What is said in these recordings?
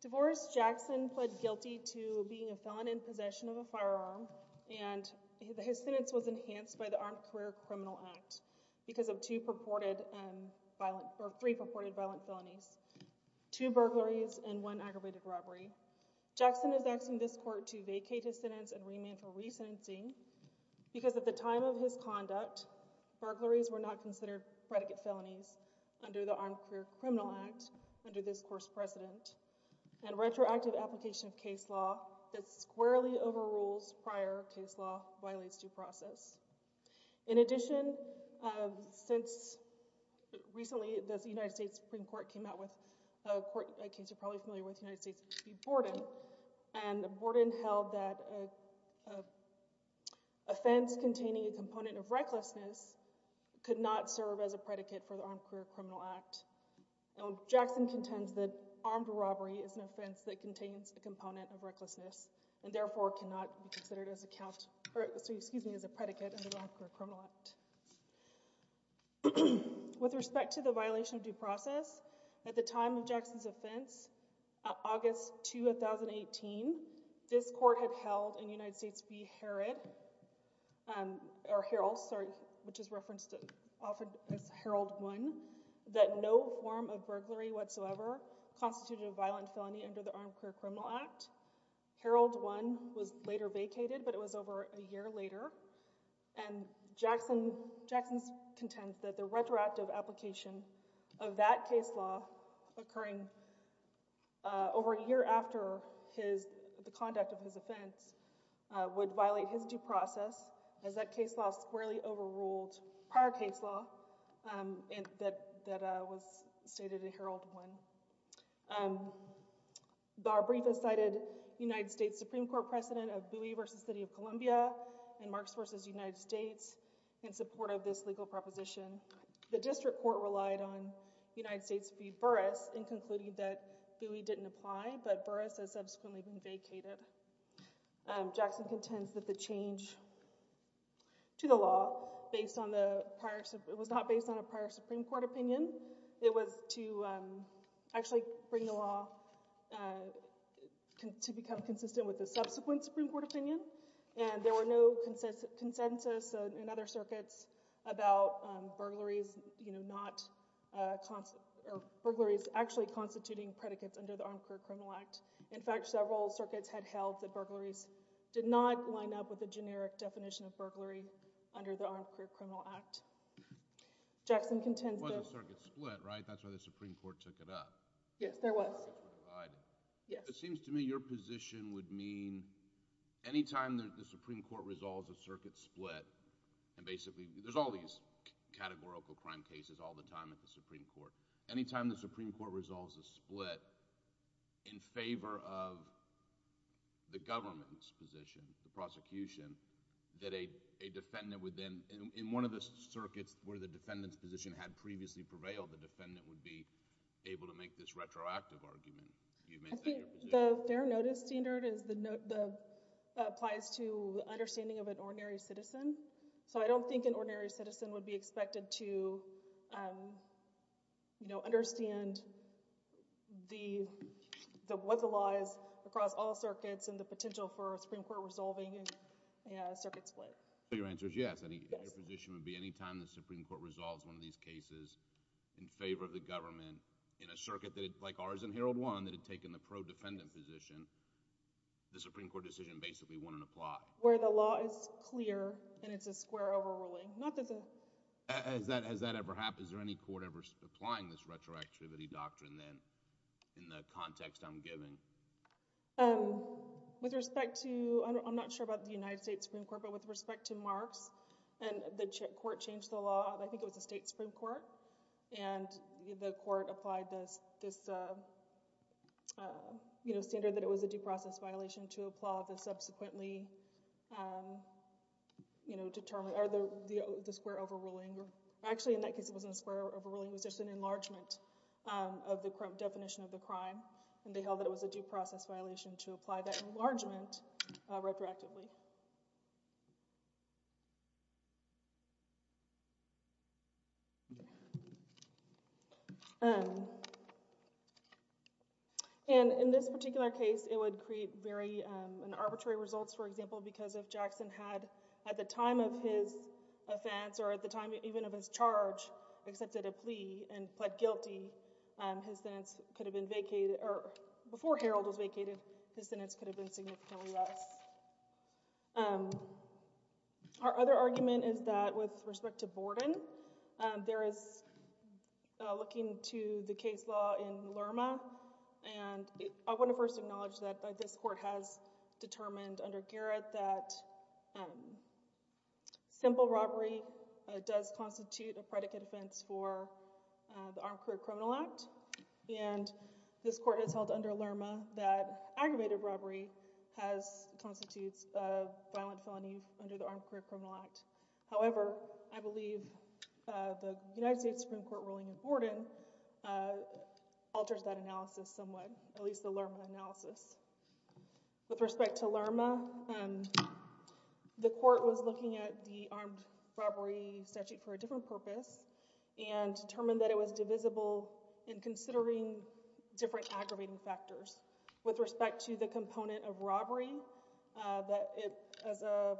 Divorce Jackson pled guilty to being a felon in possession of a firearm and his sentence was enhanced by the Armed Career Criminal Act because of three purported violent felonies, two burglaries and one aggravated robbery. Jackson is asking this court to vacate his sentence and remand for resentencing because at the time of his conduct, burglaries were not considered predicate felonies under the Armed Career Criminal Act under this court's precedent and retroactive application of case law that squarely overrules prior case law violates due process. In addition, since recently the United States Supreme Court came out with a court case you're and the Borden held that an offense containing a component of recklessness could not serve as a predicate for the Armed Career Criminal Act. Jackson contends that armed robbery is an offense that contains a component of recklessness and therefore cannot be considered as a predicate under the Armed Career Criminal Act. With respect to the violation of due process, at the time of Jackson's offense, August 2, 2018, this court had held in United States v. Herod or Harold, sorry, which is referenced often as Harold 1, that no form of burglary whatsoever constituted a violent felony under the Armed Career Criminal Act. Harold 1 was later vacated but it was over a year later and Jackson's contends that the retroactive application of that case law occurring over a year after the conduct of his offense would violate his due process as that case law squarely overruled prior case law that was stated in Harold 1. Our brief has cited United States Supreme Court precedent of Bowie v. City of Columbia and Marks v. United States in support of this legal proposition. The district court relied on United States v. Burris in concluding that Bowie didn't apply but Burris has subsequently been vacated. Jackson contends that the change to the law based on the prior, it was not based on a actually bring the law to become consistent with the subsequent Supreme Court opinion and there were no consensus in other circuits about burglaries, you know, not, or burglaries actually constituting predicates under the Armed Career Criminal Act. In fact, several circuits had held that burglaries did not line up with the generic definition of burglary under the Armed Career Criminal Act. Jackson contends that... There was a circuit split, right? That's why the Supreme Court took it up. Yes, there was. It seems to me your position would mean anytime the Supreme Court resolves a circuit split and basically, there's all these categorical crime cases all the time at the Supreme Court. Anytime the Supreme Court resolves a split in favor of the government's position, the prosecution, that a defendant would then, in one of the circuits where the defendant's position had previously prevailed, the defendant would be able to make this retroactive argument. Do you make that your position? I think the fair notice standard is the, applies to the understanding of an ordinary citizen. So, I don't think an ordinary citizen would be expected to, you know, understand the, what the law is across all circuits and the potential for a Supreme Court resolving a circuit split. So, your answer is yes. Yes. Your position would be anytime the Supreme Court resolves one of these cases in favor of the government in a circuit that, like ours in Herald One, that had taken the pro-defendant position, the Supreme Court decision basically wouldn't apply. Where the law is clear and it's a square overruling. Not that the... Has that ever happened? Is there any court ever applying this retroactivity doctrine then in the context I'm giving? With respect to, I'm not sure about the United States Supreme Court, but with respect to Marks, and the court changed the law, I think it was the state Supreme Court, and the court applied this, you know, standard that it was a due process violation to apply the subsequently, you know, determined, or the square overruling. Actually, in that case, it wasn't a square overruling. It was just an enlargement of the current definition of the crime, and they held that it was a due process violation to apply that enlargement retroactively. And in this particular case, it would create very arbitrary results, for example, because if Jackson had, at the time of his offense, or at the time even of his charge, accepted a plea and pled guilty, his sentence could have been vacated, or before Harold was vacated, his sentence could have been significantly less. Our other argument is that with respect to Borden, there is, looking to the case law in Lerma, and I want to first acknowledge that this court has determined under Garrett that simple robbery does constitute a predicate offense for the Armed Career Criminal Act, and this court has held under Lerma that aggravated robbery constitutes a violent felony under the Armed Career Criminal Act. However, I believe the United States Supreme Court ruling in Borden alters that analysis somewhat, at least the Lerma analysis. With respect to Lerma, the court was looking at the armed robbery statute for a different purpose, and determined that it was divisible in considering different aggravating factors. With respect to the component of robbery, as a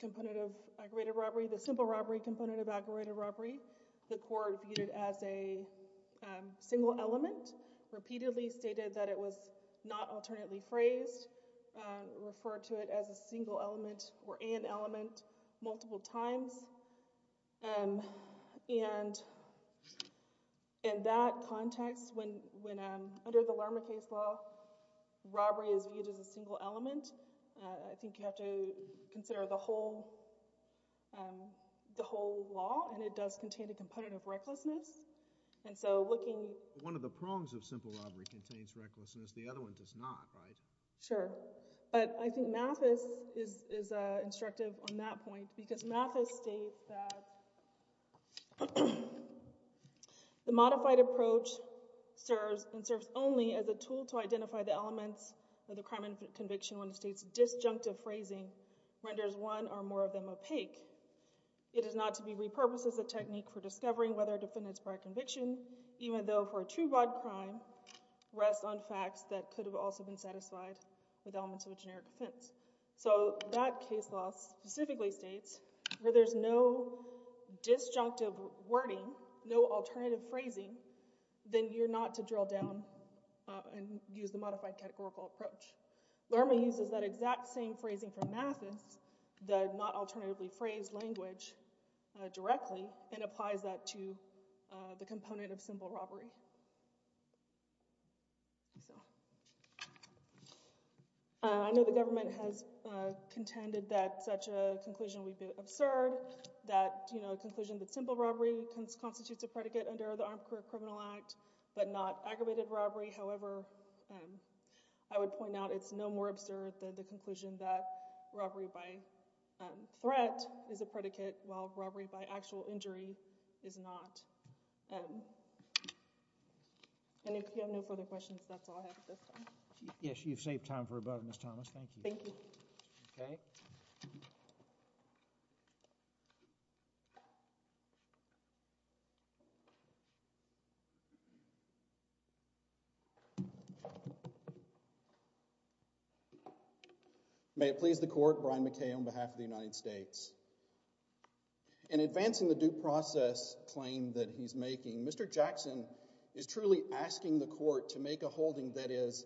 component of aggravated robbery, the simple robbery component of aggravated robbery, the court viewed it as a single element, repeatedly stated that it was not alternately phrased, referred to it as a single element or an element First of all, robbery is viewed as a single element. I think you have to consider the whole law, and it does contain a component of recklessness. One of the prongs of simple robbery contains recklessness. The other one does not, right? Sure. But I think Mathis is instructive on that point, because Mathis states that the modified approach serves and serves only as a tool to identify the elements of the crime and conviction when the state's disjunctive phrasing renders one or more of them opaque. It is not to be repurposed as a technique for discovering whether a defendant's prior conviction, even though for a true broad crime, rests on facts that could have also been satisfied with elements of a generic offense. So that case law specifically states where there's no disjunctive wording, no alternative phrasing, then you're not to drill down and use the modified categorical approach. Lerma uses that exact same phrasing from Mathis, the not alternatively phrased language, directly and applies that to the component of simple robbery. I know the government has contended that such a conclusion would be absurd, that, you know, a conclusion that simple robbery constitutes a predicate under the Armed Career Criminal Act, but not aggravated robbery. However, I would point out it's no more absurd than the conclusion that robbery by threat is a predicate while robbery by actual injury is not. And if you have no further questions, that's all I have at this time. Yes, you've saved time for a vote, Ms. Thomas. Thank you. Thank you. Okay. Thank you. May it please the court, Brian McKay on behalf of the United States. In advancing the due process claim that he's making, Mr. Jackson is truly asking the court to make a holding that is,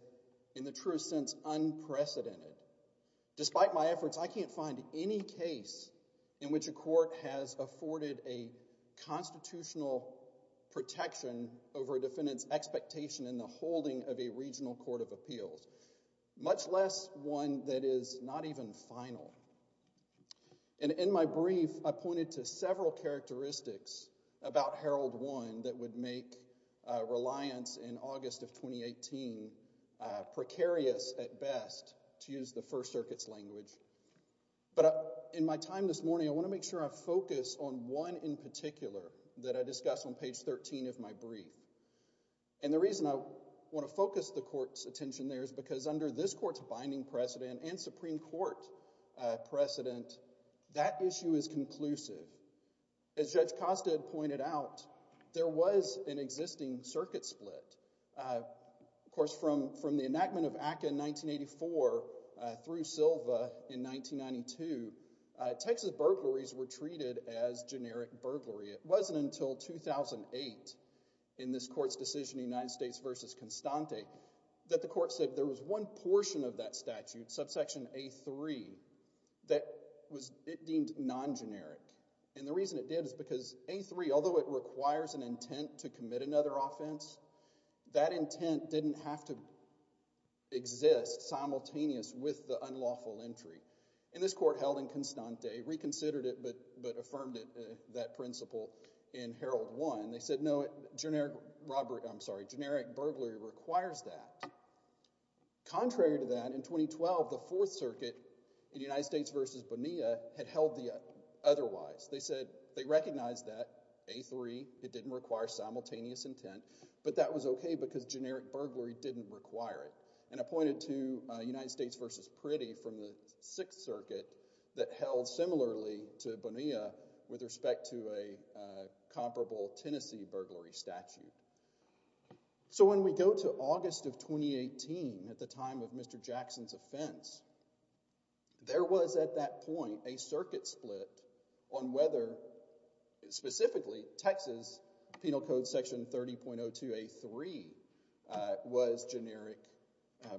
in the truest sense, unprecedented. Despite my efforts, I can't find any case in which a court has afforded a constitutional protection over a defendant's expectation in the holding of a regional court of appeals, much less one that is not even final. And in my brief, I pointed to several characteristics about Herald One that would make reliance in August of 2018 precarious at best, to use the First Circuit's language. But in my time this morning, I want to make sure I focus on one in particular that I discuss on page 13 of my brief. And the reason I want to focus the court's attention there is because under this court's binding precedent and Supreme Court precedent, that issue is conclusive. As Judge Costa pointed out, there was an existing circuit split. Of course, from the enactment of ACCA in 1984 through Silva in 1992, Texas burglaries were treated as generic burglary. It wasn't until 2008 in this court's decision, United States v. Constante, that the court said there was one portion of that statute, subsection A-3, that it deemed non-generic. And the reason it did is because A-3, although it requires an intent to commit another offense, that intent didn't have to exist simultaneous with the unlawful entry. And this court held in Constante, reconsidered it but affirmed that principle in Herald One. They said, no, generic burglary requires that. Contrary to that, in 2012, the Fourth Circuit in United States v. Bonilla had held the otherwise. They said they recognized that A-3, it didn't require simultaneous intent, but that was okay because generic burglary didn't require it. And I pointed to United States v. Priddy from the Sixth Circuit that held similarly to Bonilla with respect to a comparable Tennessee burglary statute. So when we go to August of 2018 at the time of Mr. Jackson's offense, there was at that point a circuit split on whether specifically Texas Penal Code Section 30.02A-3 was generic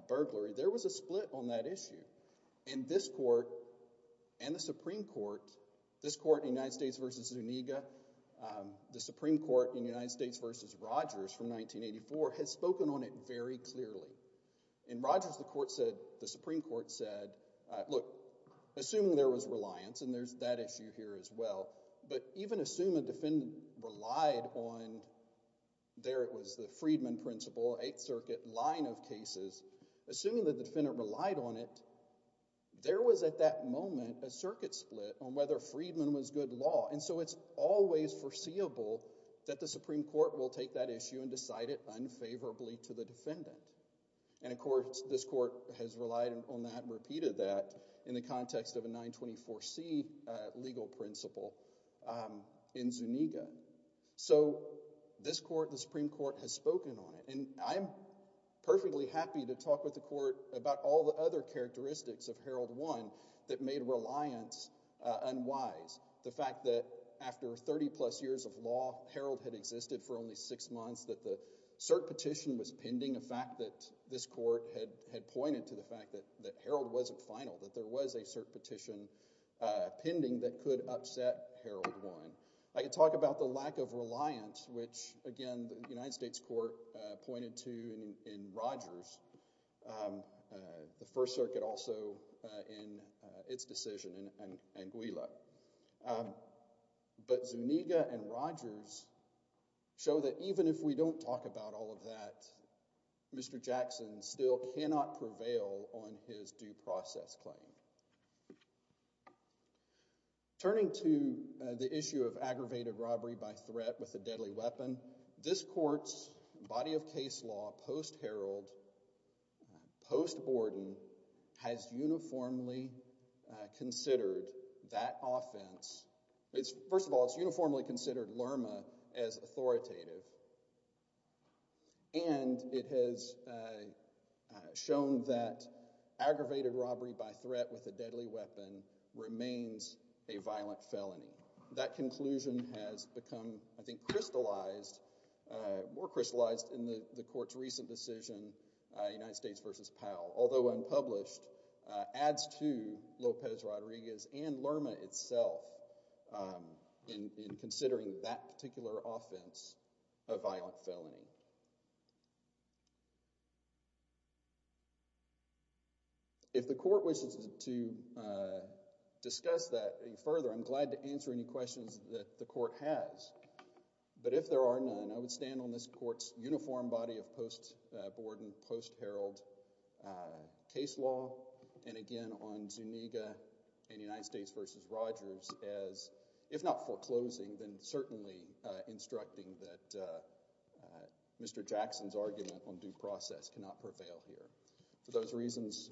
burglary. There was a split on that issue. And this court and the Supreme Court, this court in United States v. Zuniga, the Supreme Court in United States v. Rogers from 1984 had spoken on it very clearly. In Rogers, the Supreme Court said, look, assuming there was reliance, and there's that issue here as well, but even assume a defendant relied on, there it was, the Friedman principle, Eighth Circuit line of cases, assuming that the defendant relied on it, there was at that moment a circuit split on whether Friedman was good law. And so it's always foreseeable that the Supreme Court will take that issue and decide it unfavorably to the defendant. And of course, this court has relied on that and repeated that in the context of a 924C legal principle in Zuniga. So this court, the Supreme Court, has spoken on it. And I am perfectly happy to talk with the court about all the other characteristics of Herald 1 that made reliance unwise. The fact that after 30 plus years of law, Herald had existed for only six months, that the cert petition was pending, a fact that this court had pointed to the fact that Herald wasn't final, that there was a cert petition pending that could upset Herald 1. I could talk about the lack of reliance, which, again, the United States court pointed to in Rogers, the First Circuit also in its decision, and Gwila. But Zuniga and Rogers show that even if we don't talk about all of that, Mr. Jackson still cannot prevail on his due process claim. Turning to the issue of aggravated robbery by threat with a deadly weapon, this court's body of case law post-Herald, post-Borden, has uniformly considered that offense. First of all, it's uniformly considered LRMA as authoritative. And it has shown that aggravated robbery by threat with a deadly weapon remains a violent felony. That conclusion has become, I think, crystallized, more crystallized in the court's recent decision, United States v. Powell. Although unpublished, adds to Lopez Rodriguez and LRMA itself in considering that particular offense a violent felony. If the court wishes to discuss that further, I'm glad to answer any questions that the court has. But if there are none, I would stand on this court's uniform body of post-Borden, post-Herald case law, and, again, on Zuniga and United States v. Rogers as, if not foreclosing, then certainly instructing that Mr. Jackson's argument on due process cannot prevail here. For those reasons,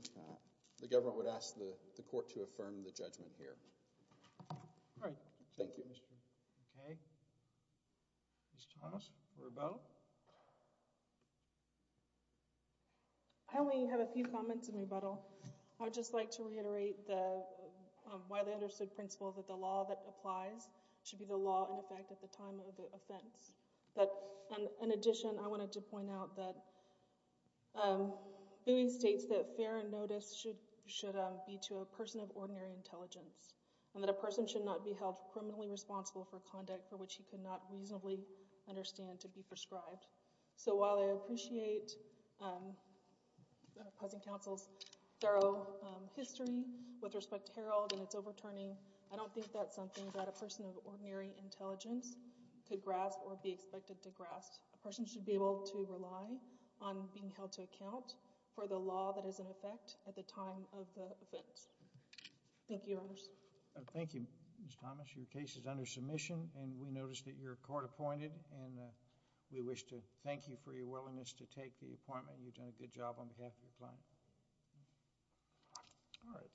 the government would ask the court to affirm the judgment here. All right. Thank you. Okay. Ms. Thomas, rebuttal? I only have a few comments in rebuttal. I would just like to reiterate the widely understood principle that the law that applies should be the law in effect at the time of the offense. But in addition, I wanted to point out that Bowie states that fair notice should be to a person of ordinary intelligence and that a person should not be held criminally responsible for conduct for which he could not reasonably understand to be prescribed. So while I appreciate opposing counsel's thorough history with respect to Herald and I don't think that's something that a person of ordinary intelligence could grasp or be expected to grasp, a person should be able to rely on being held to account for the law that is in effect at the time of the offense. Thank you, Your Honors. Thank you, Ms. Thomas. Your case is under submission and we notice that you're court-appointed and we wish to thank you for your willingness to take the appointment. You've done a good job on behalf of the client. All right.